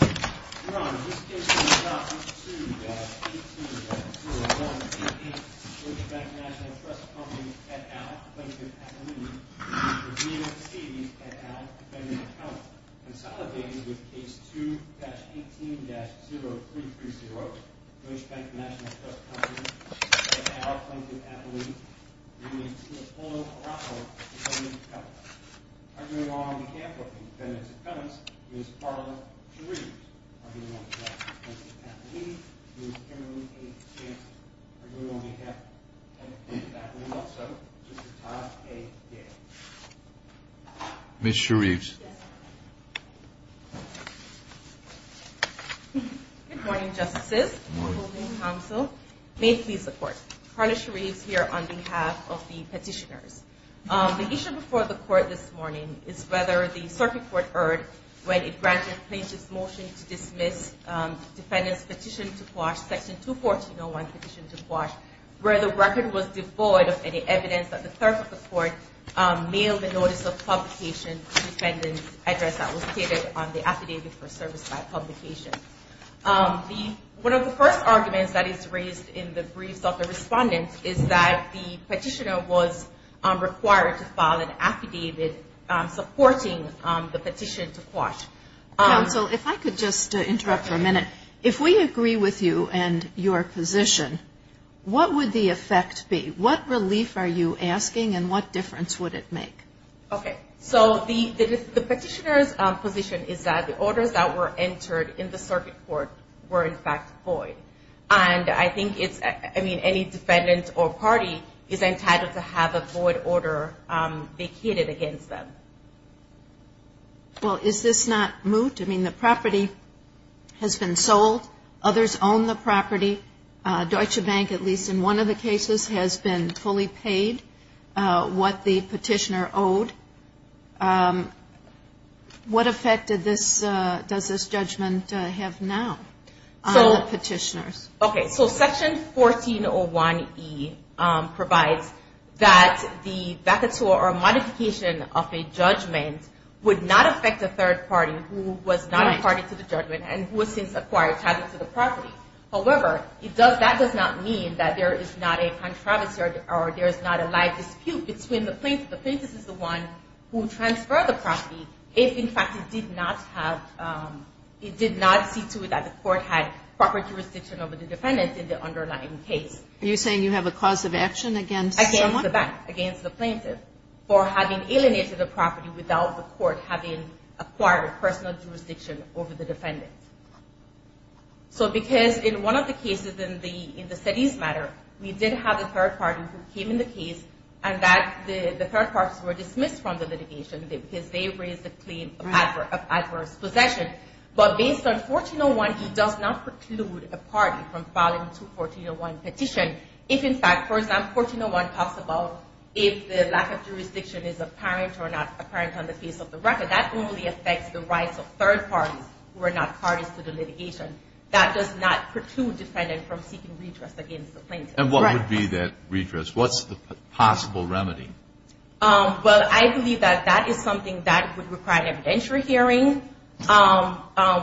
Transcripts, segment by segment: Your Honor, this case is adopted 2-18-0188, Bush Bank National Trust Company, et al., Plaintiff Appellee, v. Stevens, et al., Defendant's Accountant. Consolidated with Case 2-18-0330, Bush Bank National Trust Company, et al., Plaintiff Appellee, v. Napoleon Araujo, Defendant's Accountant. Arguing on behalf of the Defendant's Accountants, Ms. Carla Shereves. Arguing on behalf of Plaintiff Appellee, Ms. Emily A. Jansen. Arguing on behalf of Plaintiff Appellee also, Mr. Todd A. Gale. Ms. Shereves. Good morning, Justices. Good morning, Counsel. May it please the Court. Carla Shereves here on behalf of the Petitioners. The issue before the Court this morning is whether the Circuit Court erred when it granted Plaintiff's Motion to Dismiss Defendant's Petition to Quash, Section 214-01, Petition to Quash, where the record was devoid of any evidence that the Third Court mailed a Notice of Publication to the Defendant's Address that was stated on the Affidavit for Service by Publication. One of the first arguments that is raised in the briefs of the Respondent is that the Petitioner was required to file an Affidavit supporting the Petition to Quash. Counsel, if I could just interrupt for a minute. If we agree with you and your position, what would the effect be? What relief are you asking and what difference would it make? Okay. So the Petitioner's position is that the orders that were entered in the Circuit Court were, in fact, void. And I think it's – I mean, any defendant or party is entitled to have a void order vacated against them. Well, is this not moot? I mean, the property has been sold. Others own the property. Deutsche Bank, at least in one of the cases, has been fully paid what the Petitioner owed. What effect did this – does this judgment have now on the Petitioners? Okay. So Section 1401E provides that the vacature or modification of a judgment would not affect a third party who was not a party to the judgment and who has since acquired title to the property. However, it does – that does not mean that there is not a controversy or there is not a live dispute between the plaintiff. The plaintiff is the one who transferred the property if, in fact, it did not have – it did not see to it that the court had proper jurisdiction over the defendant in the underlying case. Are you saying you have a cause of action against someone? Against the bank, against the plaintiff for having alienated the property without the court having acquired personal jurisdiction over the defendant. So because in one of the cases in the – in the studies matter, we did have a third party who came in the case and that – the third parties were dismissed from the litigation because they raised a claim of adverse possession. But based on 1401, it does not preclude a party from filing a 1401 petition if, in fact – for example, 1401 talks about if the lack of jurisdiction is apparent or not apparent on the face of the record. That only affects the rights of third parties who are not parties to the litigation. That does not preclude the defendant from seeking redress against the plaintiff. And what would be that redress? What's the possible remedy? Well, I believe that that is something that would require an evidentiary hearing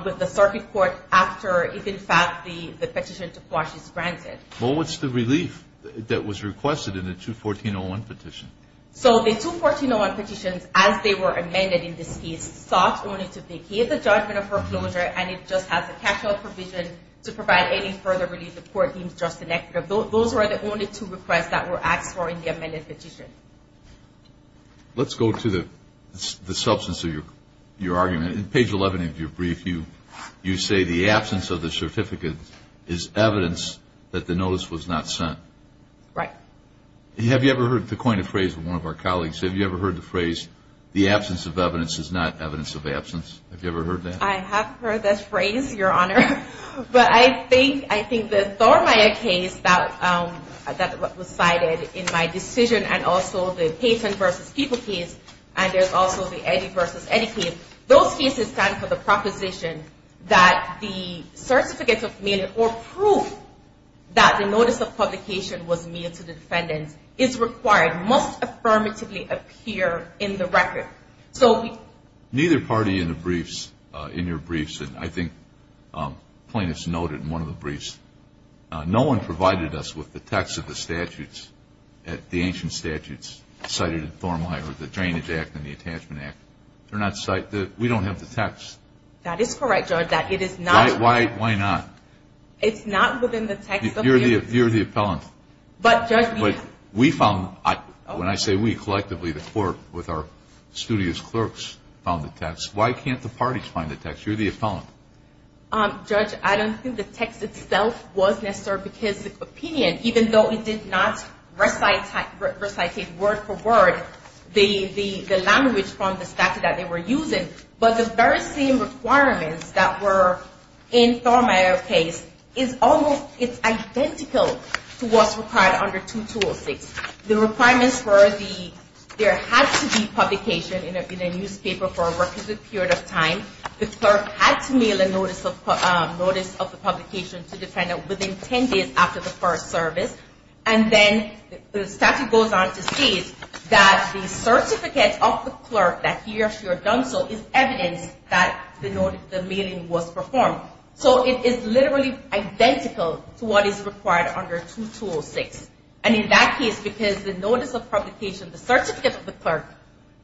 with the circuit court after if, in fact, the petition to quash is granted. Well, what's the relief that was requested in the 214-01 petition? So the 214-01 petitions, as they were amended in this case, sought only to vacate the judgment of foreclosure and it just has a cashout provision to provide any further relief the court deems just and equitable. Those were the only two requests that were asked for in the amended petition. Let's go to the substance of your argument. In page 11 of your brief, you say the absence of the certificate is evidence that the notice was not sent. Right. Have you ever heard the coined phrase of one of our colleagues? Have you ever heard the phrase, the absence of evidence is not evidence of absence? Have you ever heard that? I have heard that phrase, Your Honor. But I think the Thormeyer case that was cited in my decision and also the Payton v. People case and there's also the Eddy v. Eddy case. Those cases stand for the proposition that the certificate of mail or proof that the notice of publication was mailed to the defendant is required, must affirmatively appear in the record. Neither party in the briefs, in your briefs, and I think plaintiffs noted in one of the briefs, no one provided us with the text of the statutes, the ancient statutes cited in Thormeyer, the Drainage Act and the Attachment Act. They're not cited. We don't have the text. That is correct, Judge. Why not? It's not within the text. You're the appellant. But, Judge. We found, when I say we, collectively the court with our studio's clerks found the text. Why can't the parties find the text? You're the appellant. Judge, I don't think the text itself was necessary because the opinion, even though it did not recite word for word the language from the statute that they were using, but the very same requirements that were in Thormeyer's case is almost identical to what's required under 2206. The requirements were there had to be publication in a newspaper for a representative period of time. The clerk had to mail a notice of the publication to the defendant within 10 days after the first service. And then the statute goes on to state that the certificate of the clerk that he or she had done so is evidence that the mailing was performed. So it is literally identical to what is required under 2206. And in that case, because the notice of publication, the certificate of the clerk,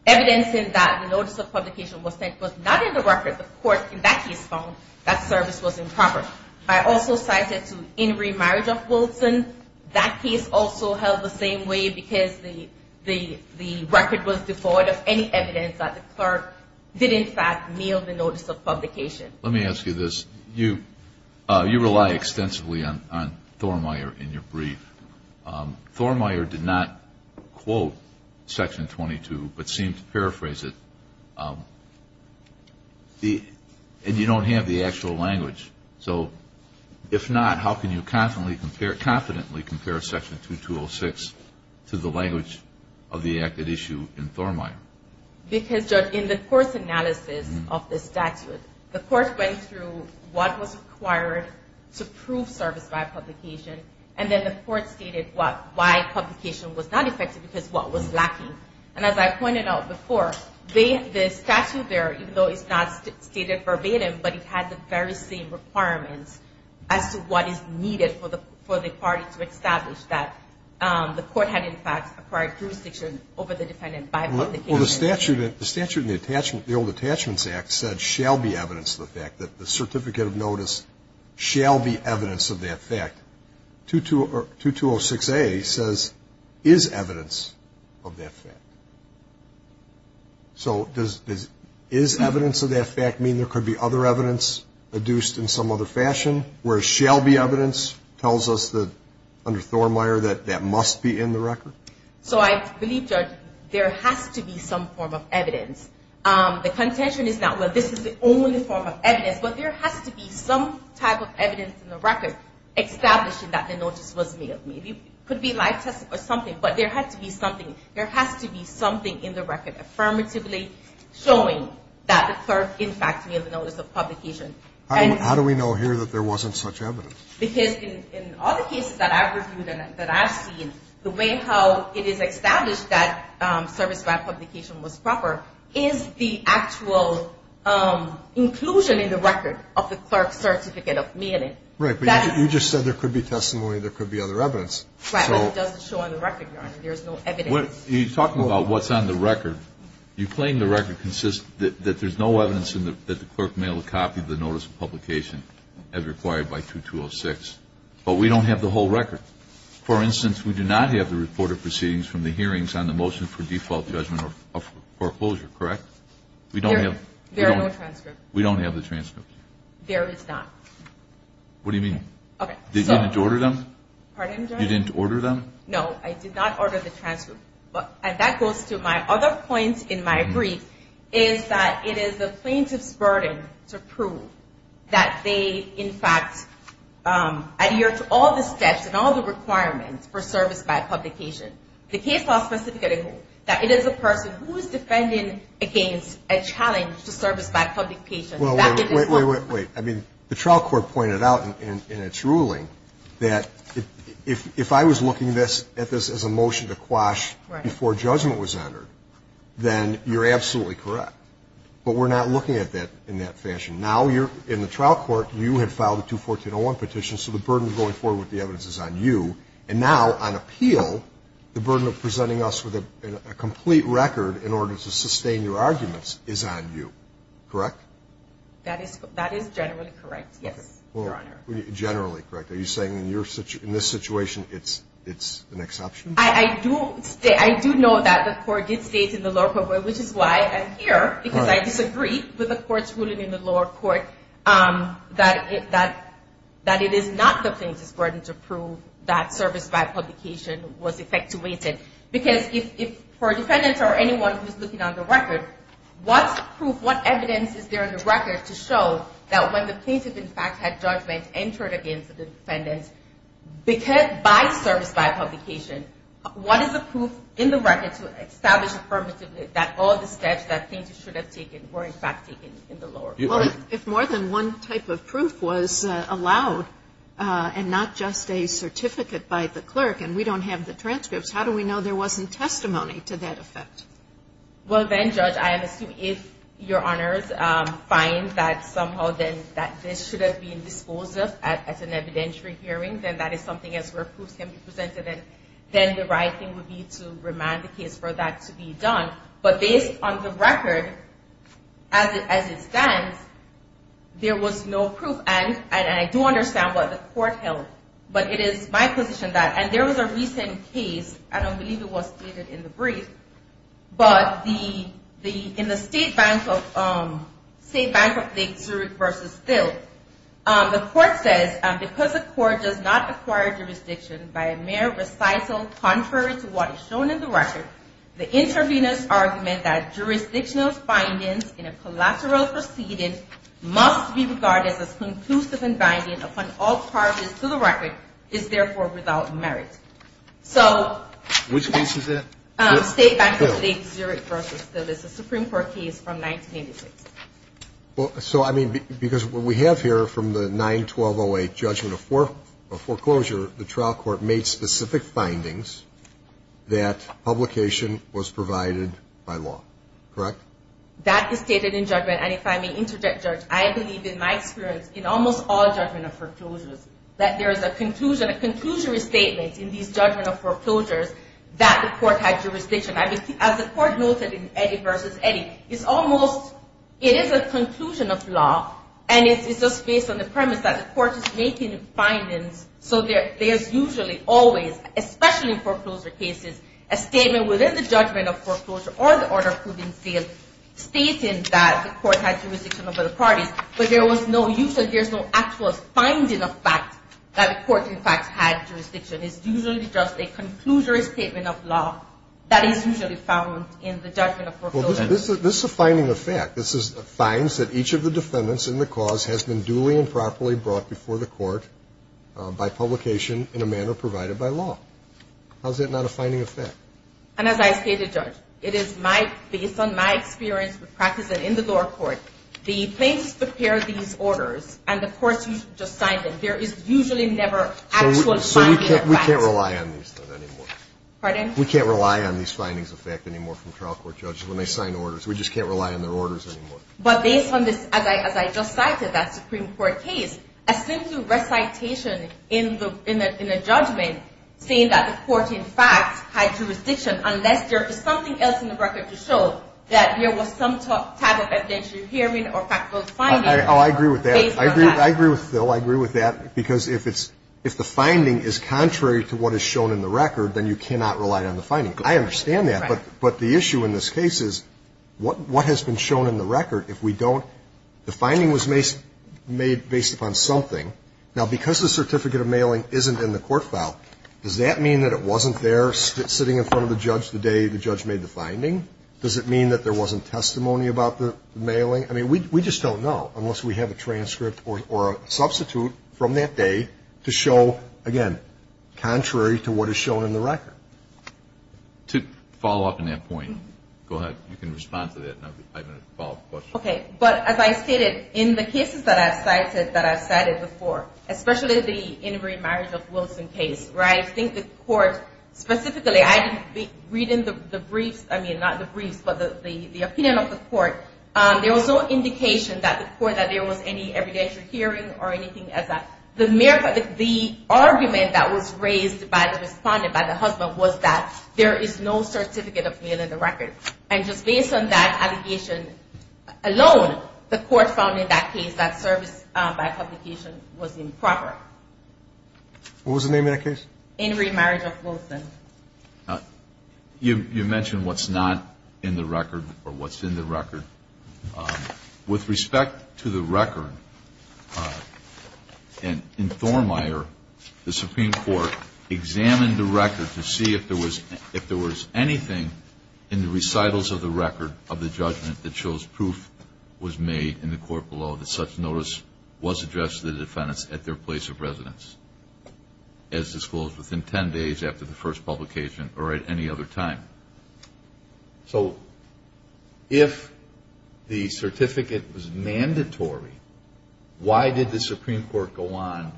evidencing that the notice of publication was not in the record, the court in that case found that service was improper. I also cite it to In Re Marriage of Wilson. That case also held the same way because the record was devoid of any evidence that the clerk did, in fact, mail the notice of publication. Let me ask you this. You rely extensively on Thormeyer in your brief. Thormeyer did not quote Section 22 but seemed to paraphrase it. And you don't have the actual language. So if not, how can you confidently compare Section 2206 to the language of the acted issue in Thormeyer? Because, Judge, in the course analysis of the statute, the court went through what was required to prove service by publication, and then the court stated why publication was not effective because what was lacking. And as I pointed out before, the statute there, even though it's not stated verbatim, but it had the very same requirements as to what is needed for the party to establish that the court had, in fact, acquired jurisdiction over the defendant by publication. Well, the statute in the Old Attachments Act said shall be evidence of the fact that the certificate of notice shall be evidence of that fact. 2206A says is evidence of that fact. So does is evidence of that fact mean there could be other evidence adduced in some other fashion, whereas shall be evidence tells us that under Thormeyer that that must be in the record? So I believe, Judge, there has to be some form of evidence. The contention is not, well, this is the only form of evidence, but there has to be some type of evidence in the record establishing that the notice was mailed. Maybe it could be a live test or something, but there had to be something. There has to be something in the record affirmatively showing that the clerk, in fact, mailed a notice of publication. How do we know here that there wasn't such evidence? Because in other cases that I've reviewed and that I've seen, the way how it is established that service grant publication was proper is the actual inclusion in the record of the clerk's certificate of mailing. Right, but you just said there could be testimony, there could be other evidence. Right, but it doesn't show on the record, Your Honor. There is no evidence. Your Honor, you claim the record consists that there's no evidence that the clerk mailed a copy of the notice of publication as required by 2206, but we don't have the whole record. For instance, we do not have the report of proceedings from the hearings on the motion for default judgment of foreclosure, correct? There are no transcripts. We don't have the transcripts. There is not. What do you mean? Okay, so. You didn't order them? Pardon, Judge? You didn't order them? No, I did not order the transcripts. And that goes to my other point in my brief, is that it is the plaintiff's burden to prove that they, in fact, adhere to all the steps and all the requirements for service grant publication. The case law specifies that it is a person who is defending against a challenge to service grant publication. Well, wait, wait, wait, wait. I mean, the trial court pointed out in its ruling that if I was looking at this as a motion to quash before judgment was entered, then you're absolutely correct. But we're not looking at that in that fashion. Now, in the trial court, you had filed a 214-01 petition, so the burden going forward with the evidence is on you. And now, on appeal, the burden of presenting us with a complete record in order to sustain your arguments is on you, correct? That is generally correct, yes, Your Honor. Generally correct. Are you saying in this situation it's an exception? I do know that the court did state in the lower court, which is why I'm here, because I disagree with the court's ruling in the lower court that it is not the plaintiff's burden to prove that service grant publication was effectuated. Because if for a defendant or anyone who's looking on the record, what proof, what evidence is there in the record to show that when the plaintiff, in fact, had judgment entered against the defendant by service grant publication, what is the proof in the record to establish affirmatively that all the steps that plaintiff should have taken were, in fact, taken in the lower court? Well, if more than one type of proof was allowed, and not just a certificate by the clerk, and we don't have the transcripts, how do we know there wasn't testimony to that effect? Well, then, Judge, I assume if Your Honors find that somehow this should have been disposed of at an evidentiary hearing, then that is something where proofs can be presented, and then the right thing would be to remand the case for that to be done. But based on the record as it stands, there was no proof, and I do understand what the court held, but it is my position that, and there was a recent case, I don't believe it was stated in the brief, but in the state bank of Lake Zurich versus Still, the court says, because the court does not acquire jurisdiction by a mere recital contrary to what is shown in the record, the intervener's argument that jurisdictional bindings in a collateral proceeding must be regarded as conclusive in binding upon all parties to the record is, therefore, without merit. Which case is that? State bank of Lake Zurich versus Still. It's a Supreme Court case from 1986. So, I mean, because what we have here from the 9-1208 judgment of foreclosure, the trial court made specific findings that publication was provided by law, correct? That is stated in judgment, and if I may interject, Judge, I believe in my experience in almost all judgment of foreclosures that there is a conclusion, a conclusory statement in these judgment of foreclosures that the court had jurisdiction. As the court noted in Eddy versus Eddy, it's almost, it is a conclusion of law, and it's just based on the premise that the court is making findings, so there's usually, always, especially in foreclosure cases, a statement within the judgment of foreclosure or the order proving seal stating that the court had jurisdiction over the parties, but there was no, usually there's no actual finding of fact that the court, in fact, had jurisdiction. It's usually just a conclusory statement of law that is usually found in the judgment of foreclosure. Well, this is a finding of fact. This is, finds that each of the defendants in the cause has been duly and properly brought before the court by publication in a manner provided by law. How's that not a finding of fact? And as I stated, Judge, it is my, based on my experience with practice and in the lower court, the plaintiffs prepare these orders and the courts just sign them. There is usually never actual finding of fact. We can't rely on these things anymore. Pardon? We can't rely on these findings of fact anymore from trial court judges when they sign orders. We just can't rely on their orders anymore. But based on this, as I just cited, that Supreme Court case, a simple recitation in a judgment saying that the court, in fact, had jurisdiction, unless there is something else in the record to show that there was some type of evidentiary hearing or factual finding. Oh, I agree with that. I agree with Phil. I agree with that. Because if it's, if the finding is contrary to what is shown in the record, then you cannot rely on the finding. I understand that. Right. But the issue in this case is what has been shown in the record? If we don't, the finding was made based upon something. Now, because the certificate of mailing isn't in the court file, does that mean that it wasn't there sitting in front of the judge the day the judge made the finding? Does it mean that there wasn't testimony about the mailing? I mean, we just don't know unless we have a transcript or a substitute from that day to show, again, contrary to what is shown in the record. To follow up on that point, go ahead. You can respond to that. I have a follow-up question. Okay. But as I stated, in the cases that I've cited, that I've cited before, especially the Inmarie Marriage of Wilson case, right, I think the court specifically, I didn't read in the briefs, I mean, not the briefs, but the opinion of the court, there was no indication that the court, that there was any evidentiary hearing or anything as that. The argument that was raised by the respondent, by the husband, was that there is no certificate of mail in the record. And just based on that allegation alone, the court found in that case that service by publication was improper. What was the name of that case? Inmarie Marriage of Wilson. You mentioned what's not in the record or what's in the record. With respect to the record, in Thornmire, the Supreme Court examined the record to see if there was anything in the recitals of the record of the judgment that shows proof was made in the court below that such notice was addressed to the defendants at their place of residence. As disclosed within 10 days after the first publication or at any other time. So, if the certificate was mandatory, why did the Supreme Court go on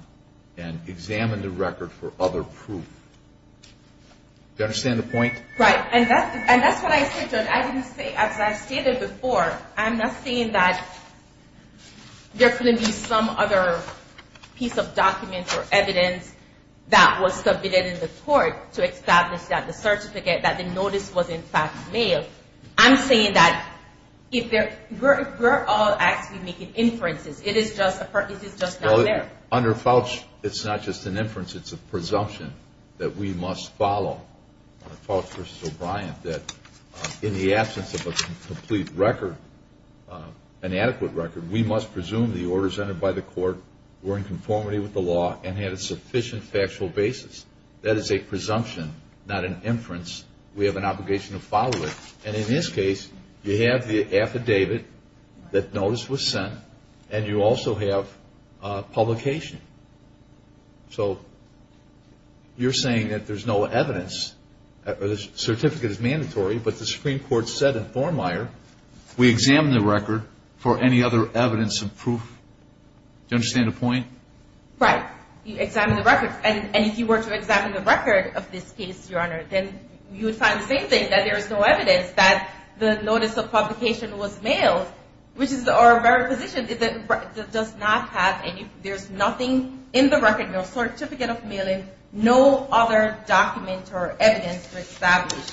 and examine the record for other proof? Do you understand the point? Right. And that's what I said, Judge. I didn't say, as I stated before, I'm not saying that there couldn't be some other piece of document or evidence that was submitted in the court to establish that the certificate, that the notice was in fact mail. I'm saying that if we're all actually making inferences, it is just not there. Under Fauch, it's not just an inference, it's a presumption that we must follow. Under Fauch v. O'Brien, that in the absence of a complete record, an adequate record, we must presume the orders entered by the court were in conformity with the law and had a sufficient factual basis. That is a presumption, not an inference. We have an obligation to follow it. And in this case, you have the affidavit that notice was sent, and you also have publication. So, you're saying that there's no evidence, the certificate is mandatory, but the Supreme Court said in Thornmire, we examine the record for any other evidence of proof. Do you understand the point? Right. You examine the record. And if you were to examine the record of this case, Your Honor, then you would find the same thing, that there is no evidence that the notice of publication was mailed, which is our very position, it does not have any, there's nothing in the record, no certificate of mailing, no other document or evidence to establish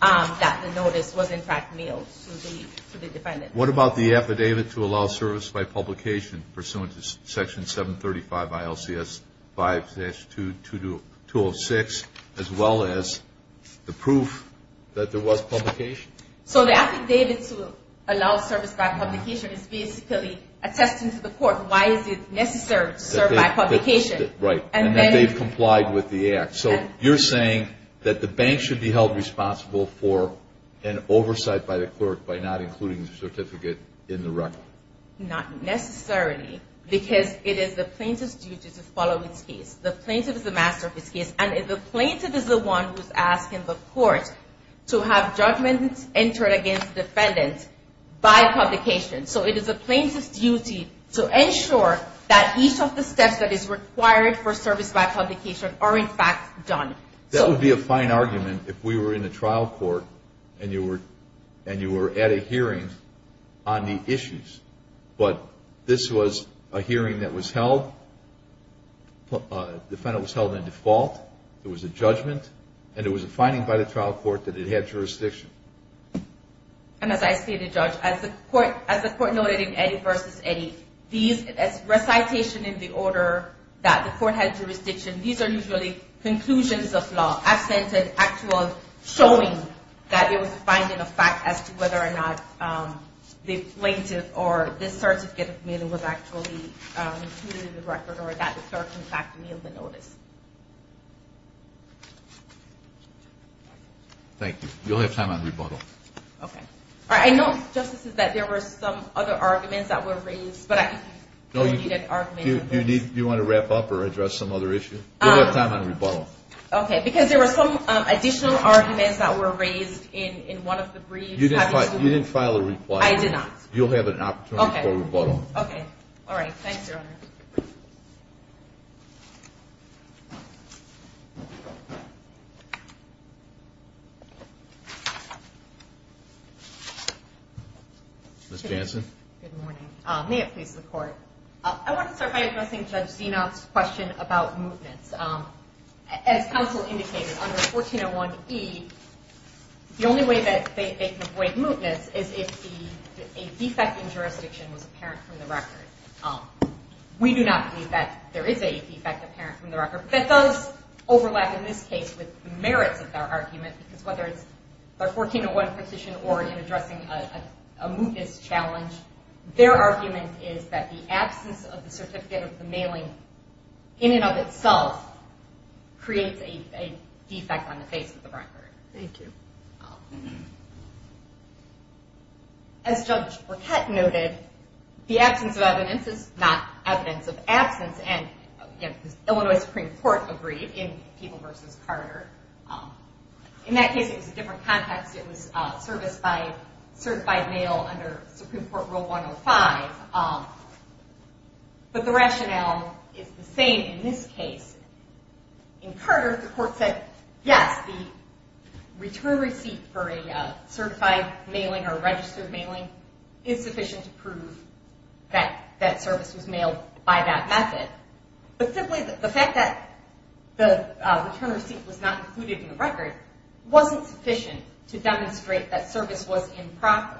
that the notice was in fact mailed to the defendant. What about the affidavit to allow service by publication pursuant to Section 735 ILCS 5-206, as well as the proof that there was publication? So, the affidavit to allow service by publication is basically attesting to the court why is it necessary to serve by publication. Right. And that they've complied with the act. So, you're saying that the bank should be held responsible for an oversight by the clerk by not including the certificate in the record. Right. Not necessarily, because it is the plaintiff's duty to follow its case. The plaintiff is the master of its case, and the plaintiff is the one who's asking the court to have judgments entered against the defendant by publication. So, it is the plaintiff's duty to ensure that each of the steps that is required for service by publication are in fact done. That would be a fine argument if we were in a trial court and you were at a hearing on the issues, but this was a hearing that was held, the defendant was held in default, it was a judgment, and it was a finding by the trial court that it had jurisdiction. And as I stated, Judge, as the court noted in Eddy v. Eddy, these recitation in the order that the court had jurisdiction, these are usually conclusions of law, absent an actual showing that it was a finding of fact as to whether or not the plaintiff or the certificate of mail was actually included in the record or that the clerk in fact mailed the notice. Thank you. You'll have time on rebuttal. Okay. I know, Justices, that there were some other arguments that were raised, but I don't need an argument. Do you want to wrap up or address some other issue? You'll have time on rebuttal. Okay. Because there were some additional arguments that were raised in one of the briefs. You didn't file a reply. I did not. You'll have an opportunity for rebuttal. Okay. All right. Thanks, Your Honor. Ms. Jansen? Good morning. May it please the Court? I want to start by addressing Judge Zenoff's question about mootness. As counsel indicated, under 1401e, the only way that they can avoid mootness is if a defect in jurisdiction was apparent from the record. We do not believe that there is a defect apparent from the record. That does overlap in this case with the merits of their argument because whether it's their 1401 petition or in addressing a mootness challenge, their argument is that the absence of the certificate of the mailing in and of itself creates a defect on the face of the record. Thank you. As Judge Burkett noted, the absence of evidence is not evidence of absence, and the Illinois Supreme Court agreed in People v. Carter. In that case, it was a different context. It was service by certified mail under Supreme Court Rule 105, but the rationale is the same in this case. In Carter, the Court said, yes, the return receipt for a certified mailing or registered mailing is sufficient to prove that that service was mailed by that method. But simply the fact that the return receipt was not included in the record wasn't sufficient to demonstrate that service was improper,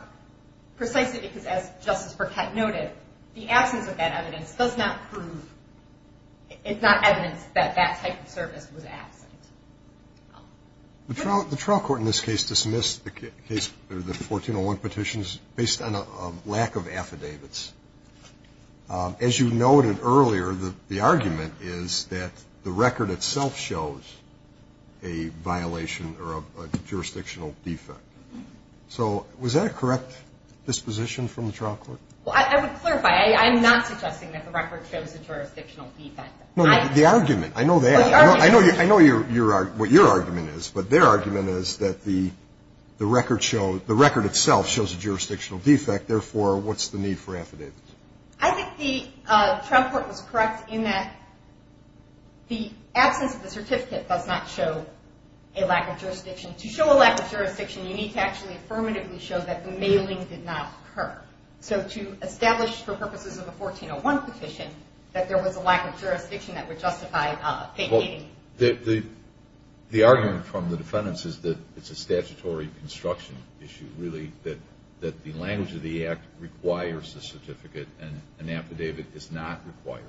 precisely because, as Justice Burkett noted, the absence of that evidence does not prove it's not evidence that that type of service was absent. The trial court in this case dismissed the 1401 petitions based on a lack of affidavits. As you noted earlier, the argument is that the record itself shows a violation or a jurisdictional defect. So was that a correct disposition from the trial court? Well, I would clarify. I am not suggesting that the record shows a jurisdictional defect. No, the argument. I know that. I know what your argument is, but their argument is that the record itself shows a jurisdictional defect. Therefore, what's the need for affidavits? I think the trial court was correct in that the absence of the certificate does not show a lack of jurisdiction. To show a lack of jurisdiction, you need to actually affirmatively show that the mailing did not occur. So to establish for purposes of a 1401 petition that there was a lack of jurisdiction that would justify vacating. The argument from the defendants is that it's a statutory construction issue, really, that the language of the Act requires a certificate and an affidavit is not required.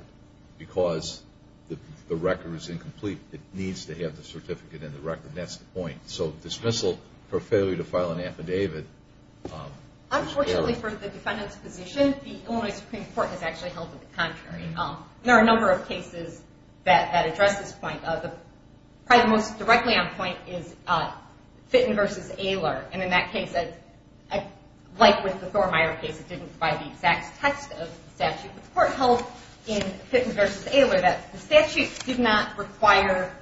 Because the record is incomplete, it needs to have the certificate in the record. That's the point. So dismissal for failure to file an affidavit. Unfortunately for the defendant's position, the Illinois Supreme Court has actually held it the contrary. There are a number of cases that address this point. Probably the most directly on point is Fitton v. Aylor. And in that case, like with the Thormeyer case, it didn't provide the exact text of the statute. The court held in Fitton v. Aylor that the statute did not require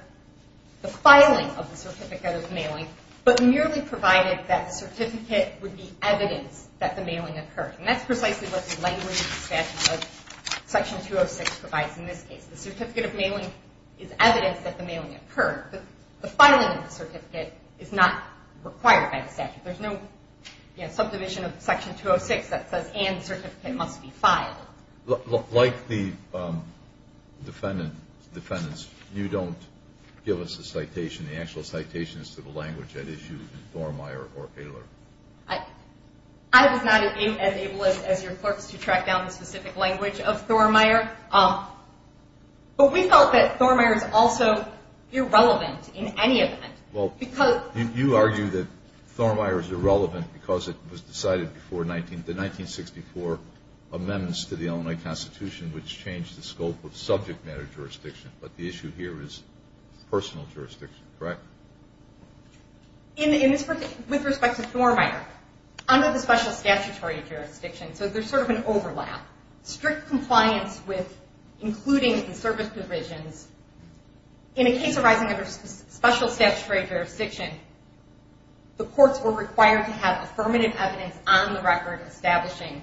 the filing of the certificate of mailing, but merely provided that the certificate would be evidence that the mailing occurred. And that's precisely what the language of the statute of Section 206 provides in this case. The certificate of mailing is evidence that the mailing occurred, but the filing of the certificate is not required by the statute. There's no subdivision of Section 206 that says, and the certificate must be filed. Like the defendants, you don't give us a citation. The actual citation is to the language at issue in Thormeyer or Aylor. I was not as able as your clerks to track down the specific language of Thormeyer, but we felt that Thormeyer is also irrelevant in any event. Well, you argue that Thormeyer is irrelevant because it was decided before the 1964 amendments to the Illinois Constitution, which changed the scope of subject matter jurisdiction, but the issue here is personal jurisdiction, correct? With respect to Thormeyer, under the special statutory jurisdiction, so there's sort of an overlap, strict compliance with including the service provisions. In a case arising under special statutory jurisdiction, the courts were required to have affirmative evidence on the record establishing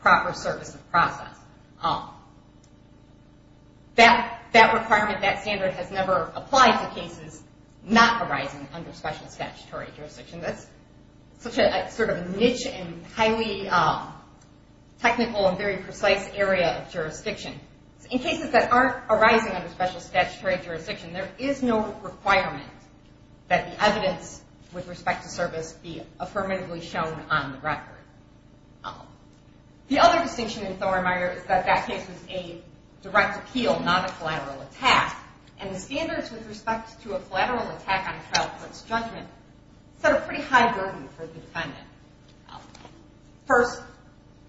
proper service of process. That requirement, that standard has never applied to cases not arising under special statutory jurisdiction. That's such a sort of niche and highly technical and very precise area of jurisdiction. In cases that aren't arising under special statutory jurisdiction, there is no requirement that the evidence with respect to service be affirmatively shown on the record. The other distinction in Thormeyer is that that case was a direct appeal, not a collateral attack, and the standards with respect to a collateral attack on a trial court's judgment set a pretty high burden for the defendant. First,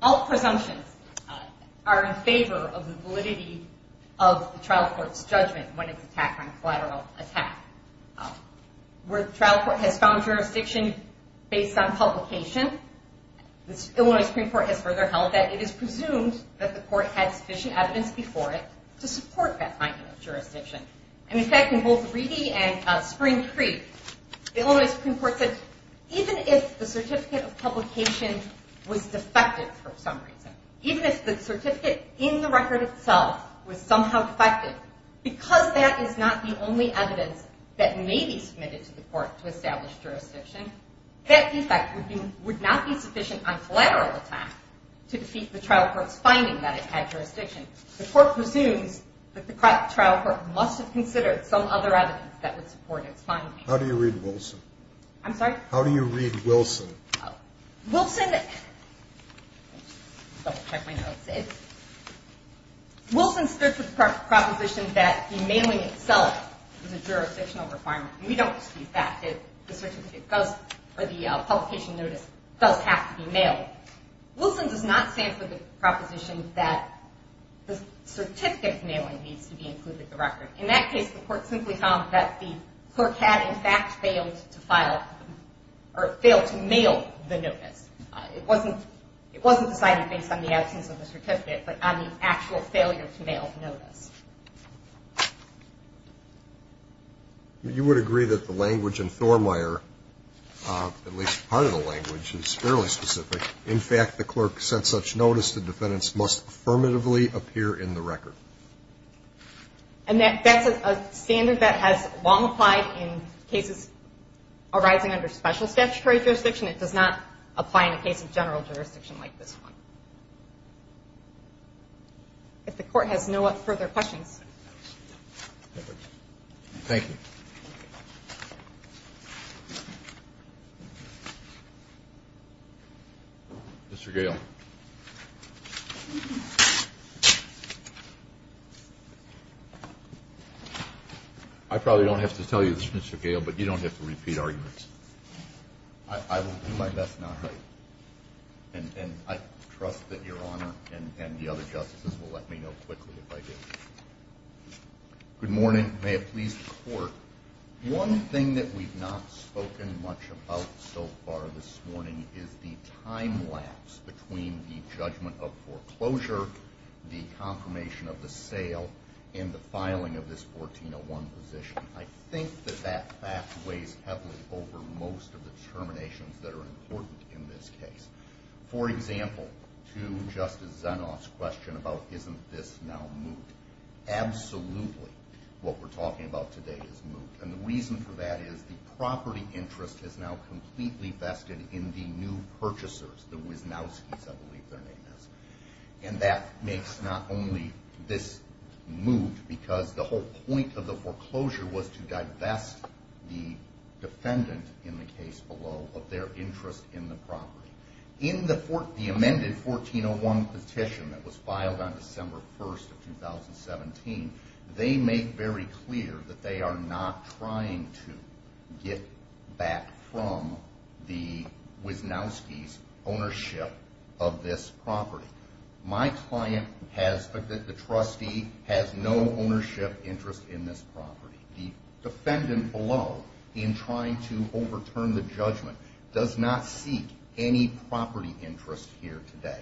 all presumptions are in favor of the validity of the trial court's judgment when it's attacked on collateral attack. Where the trial court has found jurisdiction based on publication, the Illinois Supreme Court has further held that it is presumed that the court had sufficient evidence before it to support that finding of jurisdiction. In fact, in both Reedy and Spring Creek, the Illinois Supreme Court said, even if the certificate of publication was defective for some reason, even if the certificate in the record itself was somehow defective, because that is not the only evidence that may be submitted to the court to establish jurisdiction, that defect would not be sufficient on collateral attack to defeat the trial court's finding that it had jurisdiction. The court presumes that the trial court must have considered some other evidence that would support its finding. How do you read Wilson? I'm sorry? How do you read Wilson? Wilson starts with the proposition that the mailing itself is a jurisdictional requirement. We don't dispute that, that the publication notice does have to be mailed. Wilson does not stand for the proposition that the certificate of mailing needs to be included in the record. In that case, the court simply found that the clerk had, in fact, failed to file or failed to mail the notice. It wasn't decided based on the absence of the certificate, but on the actual failure to mail the notice. You would agree that the language in Thormeyer, at least part of the language, is fairly specific. In fact, the clerk sent such notice, the defendants must affirmatively appear in the record. And that's a standard that has long applied in cases arising under special statutory jurisdiction. It does not apply in a case of general jurisdiction like this one. If the court has no further questions. Thank you. Mr. Gale. I probably don't have to tell you this, Mr. Gale, but you don't have to repeat arguments. I will do my best not to. And I trust that Your Honor and the other justices will let me know quickly if I do. Good morning. May it please the Court. One thing that we've not spoken much about so far this morning is the time lapse between the judgment of foreclosure, the confirmation of the sale, and the filing of this 1401 position. I think that that fact weighs heavily over most of the determinations that are important in this case. For example, to Justice Zenoff's question about isn't this now moot. Absolutely what we're talking about today is moot. And the reason for that is the property interest is now completely vested in the new purchasers, the Wisnowskis, I believe their name is. And that makes not only this moot because the whole point of the foreclosure was to divest the defendant, in the case below, of their interest in the property. In the amended 1401 petition that was filed on December 1st of 2017, they make very clear that they are not trying to get back from the Wisnowskis ownership of this property. My client, the trustee, has no ownership interest in this property. The defendant below, in trying to overturn the judgment, does not seek any property interest here today.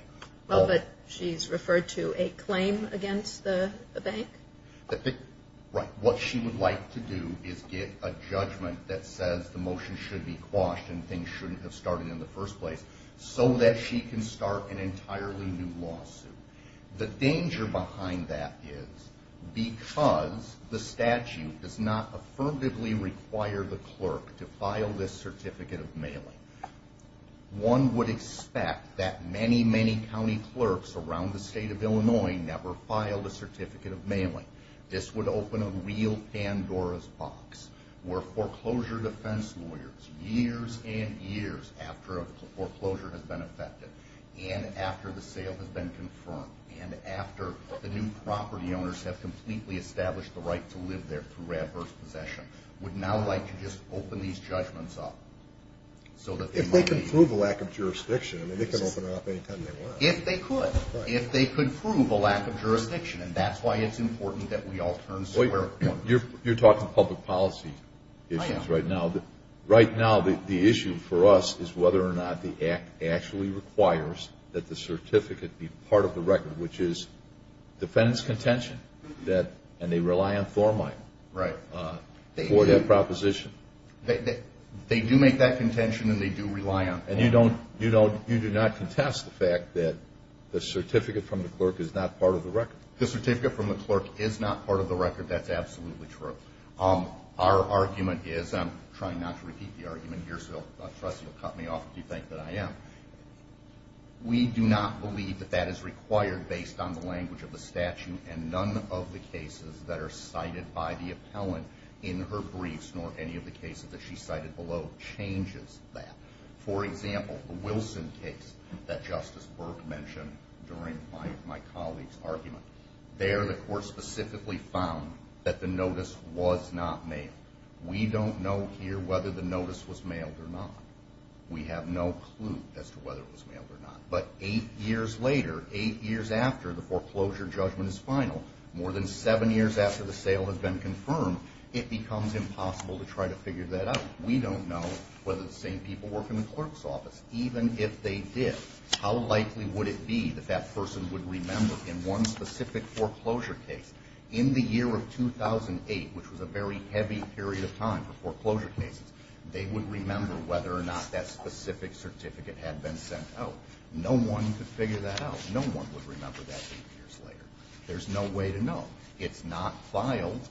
Well, but she's referred to a claim against the bank? Right. What she would like to do is get a judgment that says the motion should be quashed and things shouldn't have started in the first place so that she can start an entirely new lawsuit. The danger behind that is because the statute does not affirmatively require the clerk to file this certificate of mailing, one would expect that many, many county clerks around the state of Illinois never filed a certificate of mailing. This would open a real Pandora's box where foreclosure defense lawyers, years and years after a foreclosure has been effected, and after the sale has been confirmed, and after the new property owners have completely established the right to live there through adverse possession, would now like to just open these judgments up. If they can prove a lack of jurisdiction, they can open it up any time they want. If they could. If they could prove a lack of jurisdiction. And that's why it's important that we all turn square. You're talking public policy issues right now. Right now the issue for us is whether or not the Act actually requires that the certificate be part of the record, which is defendant's contention, and they rely on form item for that proposition. They do make that contention, and they do rely on form item. And you do not contest the fact that the certificate from the clerk is not part of the record. The certificate from the clerk is not part of the record. That's absolutely true. Our argument is, I'm trying not to repeat the argument here, so I trust you'll cut me off if you think that I am. We do not believe that that is required based on the language of the statute, and none of the cases that are cited by the appellant in her briefs, nor any of the cases that she cited below, changes that. For example, the Wilson case that Justice Burke mentioned during my colleague's argument. There the court specifically found that the notice was not mailed. We don't know here whether the notice was mailed or not. We have no clue as to whether it was mailed or not. But eight years later, eight years after the foreclosure judgment is final, more than seven years after the sale has been confirmed, it becomes impossible to try to figure that out. We don't know whether the same people work in the clerk's office. Even if they did, how likely would it be that that person would remember in one specific foreclosure case, in the year of 2008, which was a very heavy period of time for foreclosure cases, they would remember whether or not that specific certificate had been sent out. No one could figure that out. No one would remember that eight years later. There's no way to know. It's not filed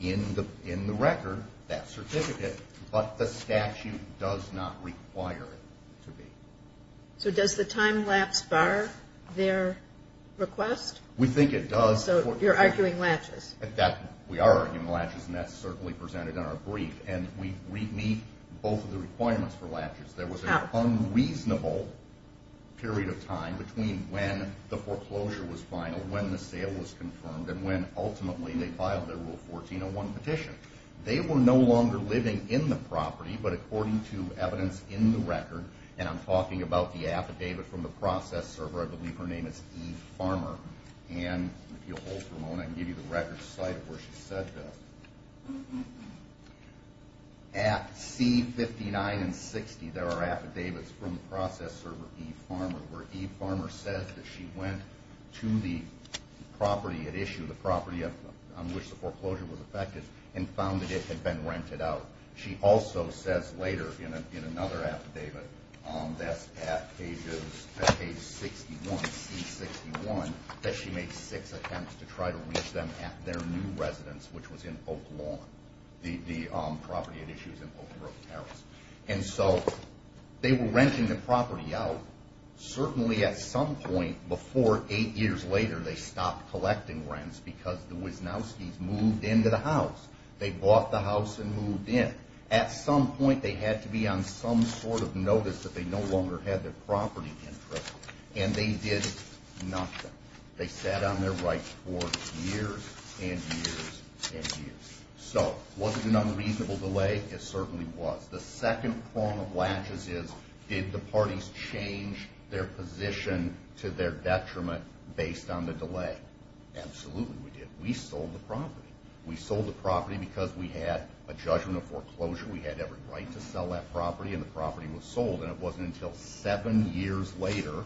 in the record, that certificate, but the statute does not require it to be. So does the time lapse bar their request? We think it does. So you're arguing latches. We are arguing latches, and that's certainly presented in our brief. And we meet both of the requirements for latches. There was an unreasonable period of time between when the foreclosure was final, when the sale was confirmed, and when ultimately they filed their Rule 1401 petition. They were no longer living in the property, but according to evidence in the record, and I'm talking about the affidavit from the process server. I believe her name is Eve Farmer. And if you'll hold for a moment, I can give you the record site of where she said this. At C-59 and 60, there are affidavits from the process server, Eve Farmer, where Eve Farmer says that she went to the property, had issued the property on which the foreclosure was affected, and found that it had been rented out. She also says later in another affidavit, that's at page 61, C-61, that she made six attempts to try to reach them at their new residence, which was in Oak Lawn, the property that issues in Oak Grove, Paris. And so they were renting the property out. Certainly at some point before eight years later, they stopped collecting rents They bought the house and moved in. At some point, they had to be on some sort of notice that they no longer had their property interest, and they did nothing. They sat on their rights for years and years and years. So, was it an unreasonable delay? It certainly was. The second prong of latches is, did the parties change their position to their detriment based on the delay? Absolutely we did. We sold the property. We sold the property because we had a judgment of foreclosure. We had every right to sell that property, and the property was sold. And it wasn't until seven years later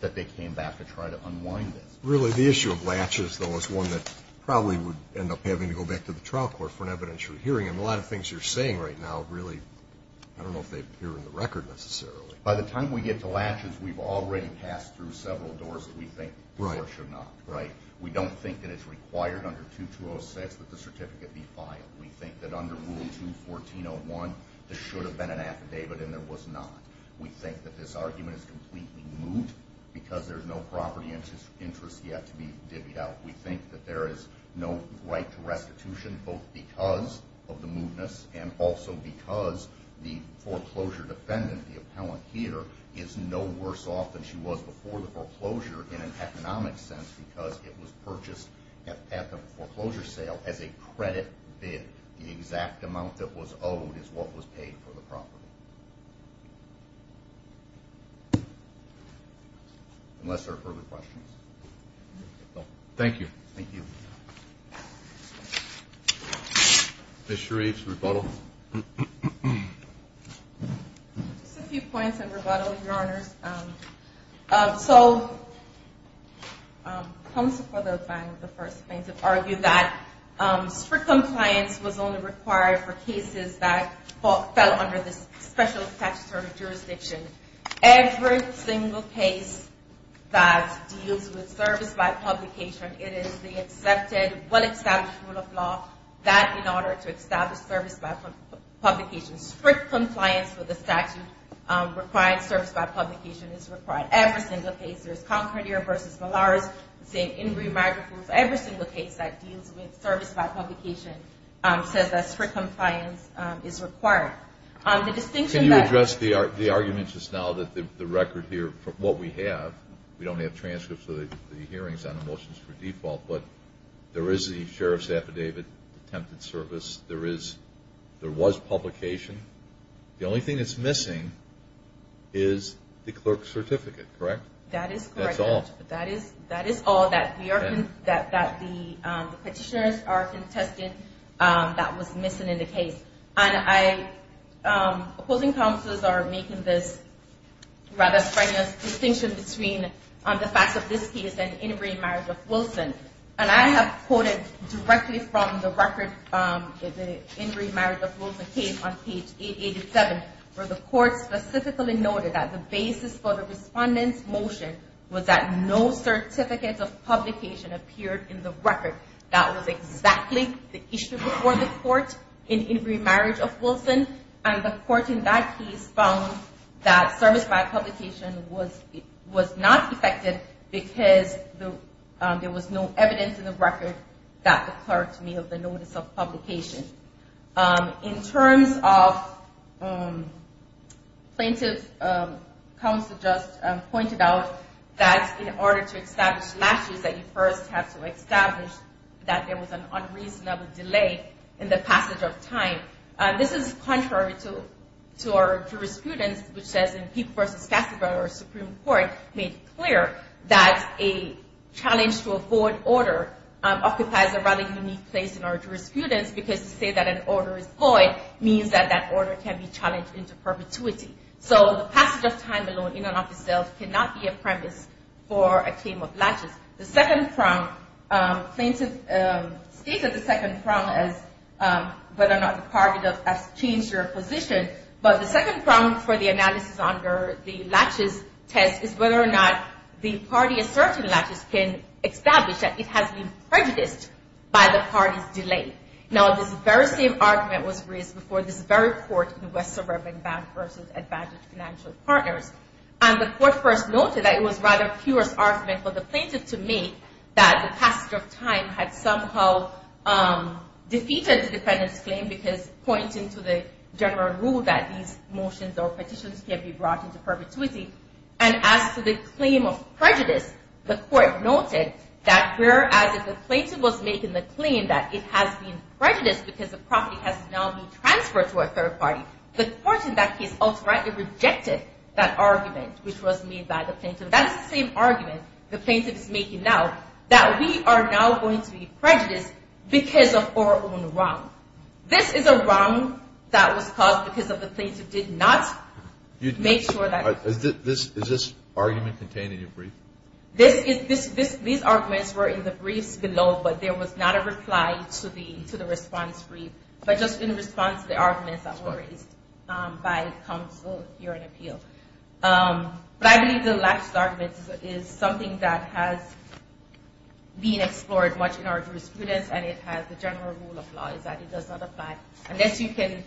that they came back to try to unwind this. Really, the issue of latches, though, is one that probably would end up having to go back to the trial court for an evidentiary hearing. And a lot of things you're saying right now, really, I don't know if they're hearing the record necessarily. By the time we get to latches, we've already passed through several doors that we think the court should not. We don't think that it's required under 2206 that the certificate be filed. We think that under Rule 214.01, there should have been an affidavit, and there was not. We think that this argument is completely moot because there's no property interest yet to be divvied out. We think that there is no right to restitution, both because of the mootness and also because the foreclosure defendant, the appellant here, is no worse off than she was before the foreclosure in an economic sense because it was purchased at the foreclosure sale as a credit bid. The exact amount that was owed is what was paid for the property. Unless there are further questions. Thank you. Thank you. Ms. Sharif's rebuttal. Just a few points on rebuttal, Your Honors. So comes before the first plaintiff argued that strict compliance was only required for cases that fell under this special statutory jurisdiction. Every single case that deals with service by publication, it is the accepted, well-established rule of law that in order to establish service by publication, strict compliance with the statute requires service by publication. It's required every single case. There's Concordia v. Malaris, the same Ingrid McGriff. Every single case that deals with service by publication says that strict compliance is required. Can you address the argument just now that the record here, what we have, we don't have transcripts of the hearings on the motions for default, but there is the sheriff's affidavit, attempted service. There was publication. The only thing that's missing is the clerk's certificate, correct? That is correct, Judge. That's all. That is all that the petitioners are contesting that was missing in the case. And opposing counselors are making this rather strenuous distinction between the facts of this case and Ingrid's marriage with Wilson. And I have quoted directly from the record, the Ingrid marriage of Wilson case on page 887, where the court specifically noted that the basis for the respondent's motion was that no certificate of publication appeared in the record. That was exactly the issue before the court in Ingrid marriage of Wilson. And the court in that case found that service by publication was not affected because there was no evidence in the record that the clerk may have the notice of publication. In terms of plaintiff counsel just pointed out that in order to establish latches that you first have to establish that there was an unreasonable delay in the passage of time. This is contrary to our jurisprudence, which says in Peek v. Kasseberg, our Supreme Court, made clear that a challenge to a forward order occupies a rather unique place in our jurisprudence because to say that an order is void means that that order can be challenged into perpetuity. So the passage of time alone in and of itself cannot be a premise for a claim of latches. The second prong, plaintiff stated the second prong as whether or not the party has changed their position. But the second prong for the analysis under the latches test is whether or not the party asserting latches can establish that it has been the party's delay. Now this very same argument was raised before this very court in West Suburban Bank v. Advantage Financial Partners. And the court first noted that it was rather pure argument for the plaintiff to make that the passage of time had somehow defeated the defendant's claim because pointing to the general rule that these motions or petitions can be brought into perpetuity. And as to the claim of prejudice, the court noted that whereas if the plaintiff claims that it has been prejudiced because the property has now been transferred to a third party, the court in that case outright rejected that argument which was made by the plaintiff. That is the same argument the plaintiff is making now, that we are now going to be prejudiced because of our own wrong. This is a wrong that was caused because the plaintiff did not make sure that. Is this argument contained in your brief? These arguments were in the briefs below, but there was not a reply to the response brief, but just in response to the arguments that were raised by counsel here in appeal. But I believe the last argument is something that has been explored much in our jurisprudence, and it has the general rule of law is that it does not apply. Unless you can,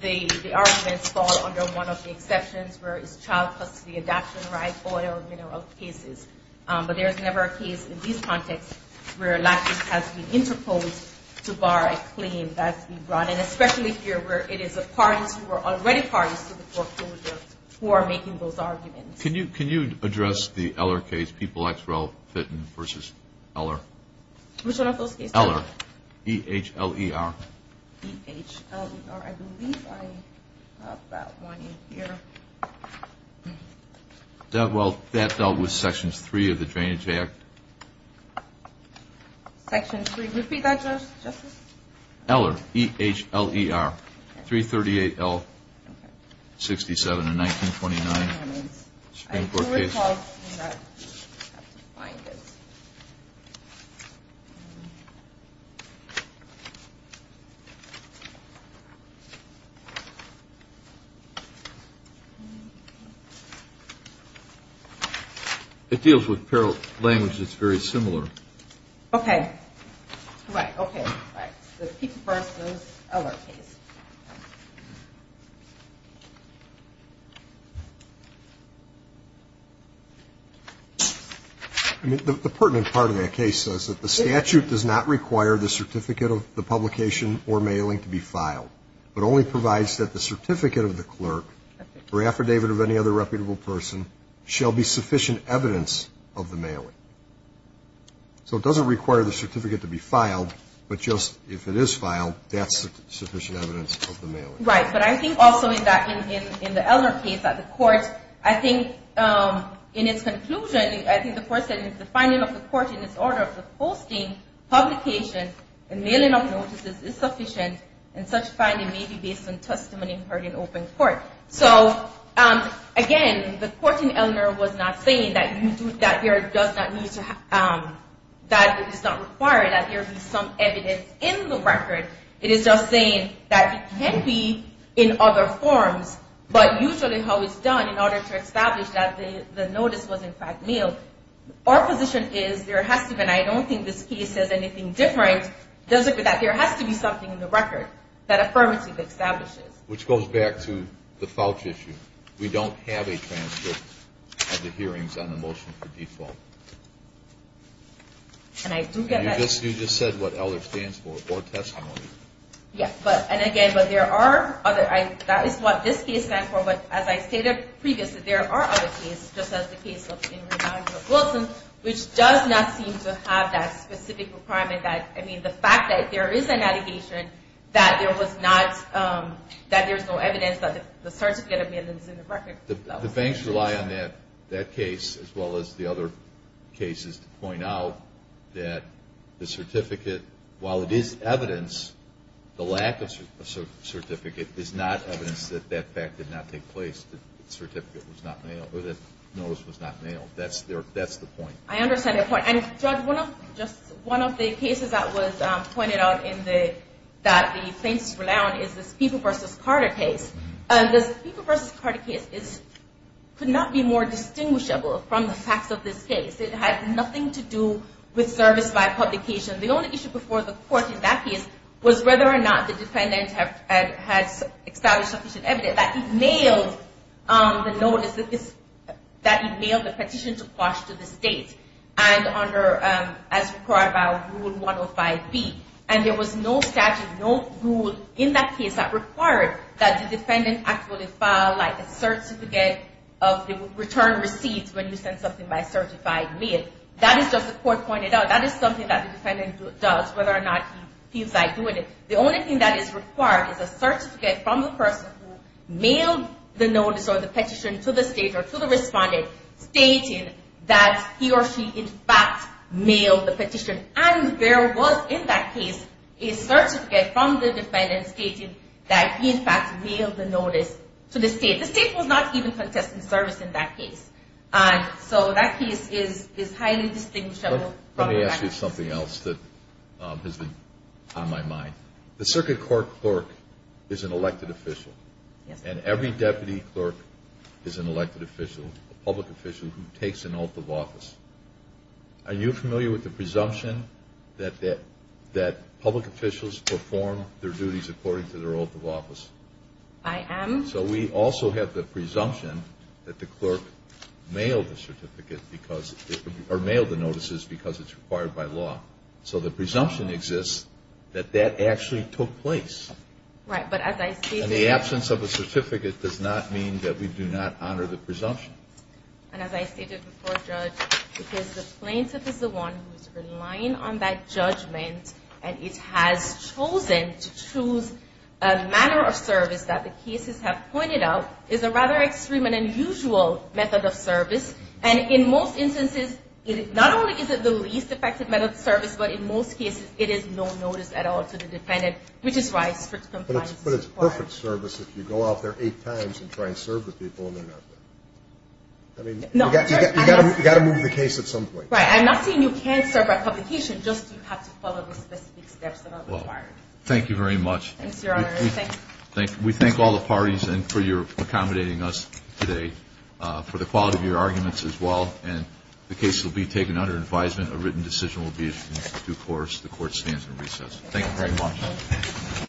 the arguments fall under one of the exceptions where it's allowed custody, adoption, right, order of mineral cases. But there is never a case in these contexts where a lactate has been interposed to bar a claim that's been brought in, especially here where it is a parties who are already parties to the foreclosure who are making those arguments. Can you address the Eller case, People X Rel Fitton versus Eller? Which one of those cases? Eller, E-H-L-E-R. E-H-L-E-R. I believe I have that one in here. Well, that dealt with Section 3 of the Drainage Act. Section 3. Repeat that, Justice? Eller, E-H-L-E-R, 338-L-67, a 1929 Supreme Court case. It deals with parallel languages. It's very similar. Okay. Correct. Okay. The People versus Eller case. The pertinent part of that case says that the statute does not require the certificate of the publication or mailing to be filed, but only provides that the certificate of the clerk or affidavit of any other reputable person shall be sufficient evidence of the mailing. So it doesn't require the certificate to be filed, but just if it is filed, that's sufficient evidence of the mailing. Right. But I think also in the Eller case at the court, I think in its conclusion, I think the court said the finding of the court in its order of the posting, publication, and mailing of notices is sufficient, and such finding may be based on testimony heard in open court. So, again, the court in Eller was not saying that it is not required that there be some evidence in the record. It is just saying that it can be in other forms, but usually how it's done in order to establish that the notice was, in fact, mailed. Our position is there has to be, and I don't think this case says anything different, that there has to be something in the record that affirmative establishes. Which goes back to the FOUCH issue. We don't have a transcript of the hearings on the motion for default. And I do get that. You just said what Eller stands for, or testimony. Yes. And, again, but there are other, that is what this case stands for. But as I stated previously, there are other cases, just as the case in reminder of Wilson, which does not seem to have that specific requirement that, I mean, the fact that there is a navigation that there was not, that there's no evidence that the certificate of mailings in the record. The banks rely on that case as well as the other cases to point out that the certificate, while it is evidence, the lack of certificate is not evidence that that fact did not take place. The certificate was not mailed, or the notice was not mailed. That's the point. I understand the point. And, Judge, one of the cases that was pointed out in the, that the banks rely on is the Spiegel v. Carter case. The Spiegel v. Carter case could not be more distinguishable from the facts of this case. It had nothing to do with service by publication. The only issue before the court in that case was whether or not the defendant had established sufficient evidence that he'd mailed the notice, that he'd mailed a petition to quash to the state and under, as required by Rule 105B. And there was no statute, no rule in that case that required that the defendant actually file, like, a certificate of the return receipts when you send something by certified mail. That is just the court pointed out. That is something that the defendant does, whether or not he feels like doing it. The only thing that is required is a certificate from the person who mailed the notice or the petition to the state or to the respondent stating that he or she, in fact, mailed the petition. And there was, in that case, a certificate from the defendant stating that he, in fact, mailed the notice to the state. The state was not even contesting service in that case. So that case is highly distinguishable. Let me ask you something else that has been on my mind. The circuit court clerk is an elected official, and every deputy clerk is an elected official, a public official who takes an oath of office. Are you familiar with the presumption that public officials perform their duties according to their oath of office? I am. So we also have the presumption that the clerk mailed the certificate or mailed the notices because it's required by law. So the presumption exists that that actually took place. Right. But as I stated before. And the absence of a certificate does not mean that we do not honor the presumption. And as I stated before, Judge, because the plaintiff is the one who is relying on that judgment and it has chosen to choose a manner of service that the cases have pointed out is a rather extreme and unusual method of service. And in most instances, not only is it the least effective method of service, but in most cases it is no notice at all to the defendant, which is why strict compliance is required. But it's perfect service if you go out there eight times and try and serve the people and they're not there. I mean, you've got to move the case at some point. Right. I'm not saying you can't serve by publication. Just you have to follow the specific steps that are required. Thank you very much. Thanks, Your Honor. We thank all the parties and for your accommodating us today for the quality of your arguments as well. And the case will be taken under advisement. A written decision will be issued in due course. The Court stands in recess. Thank you very much.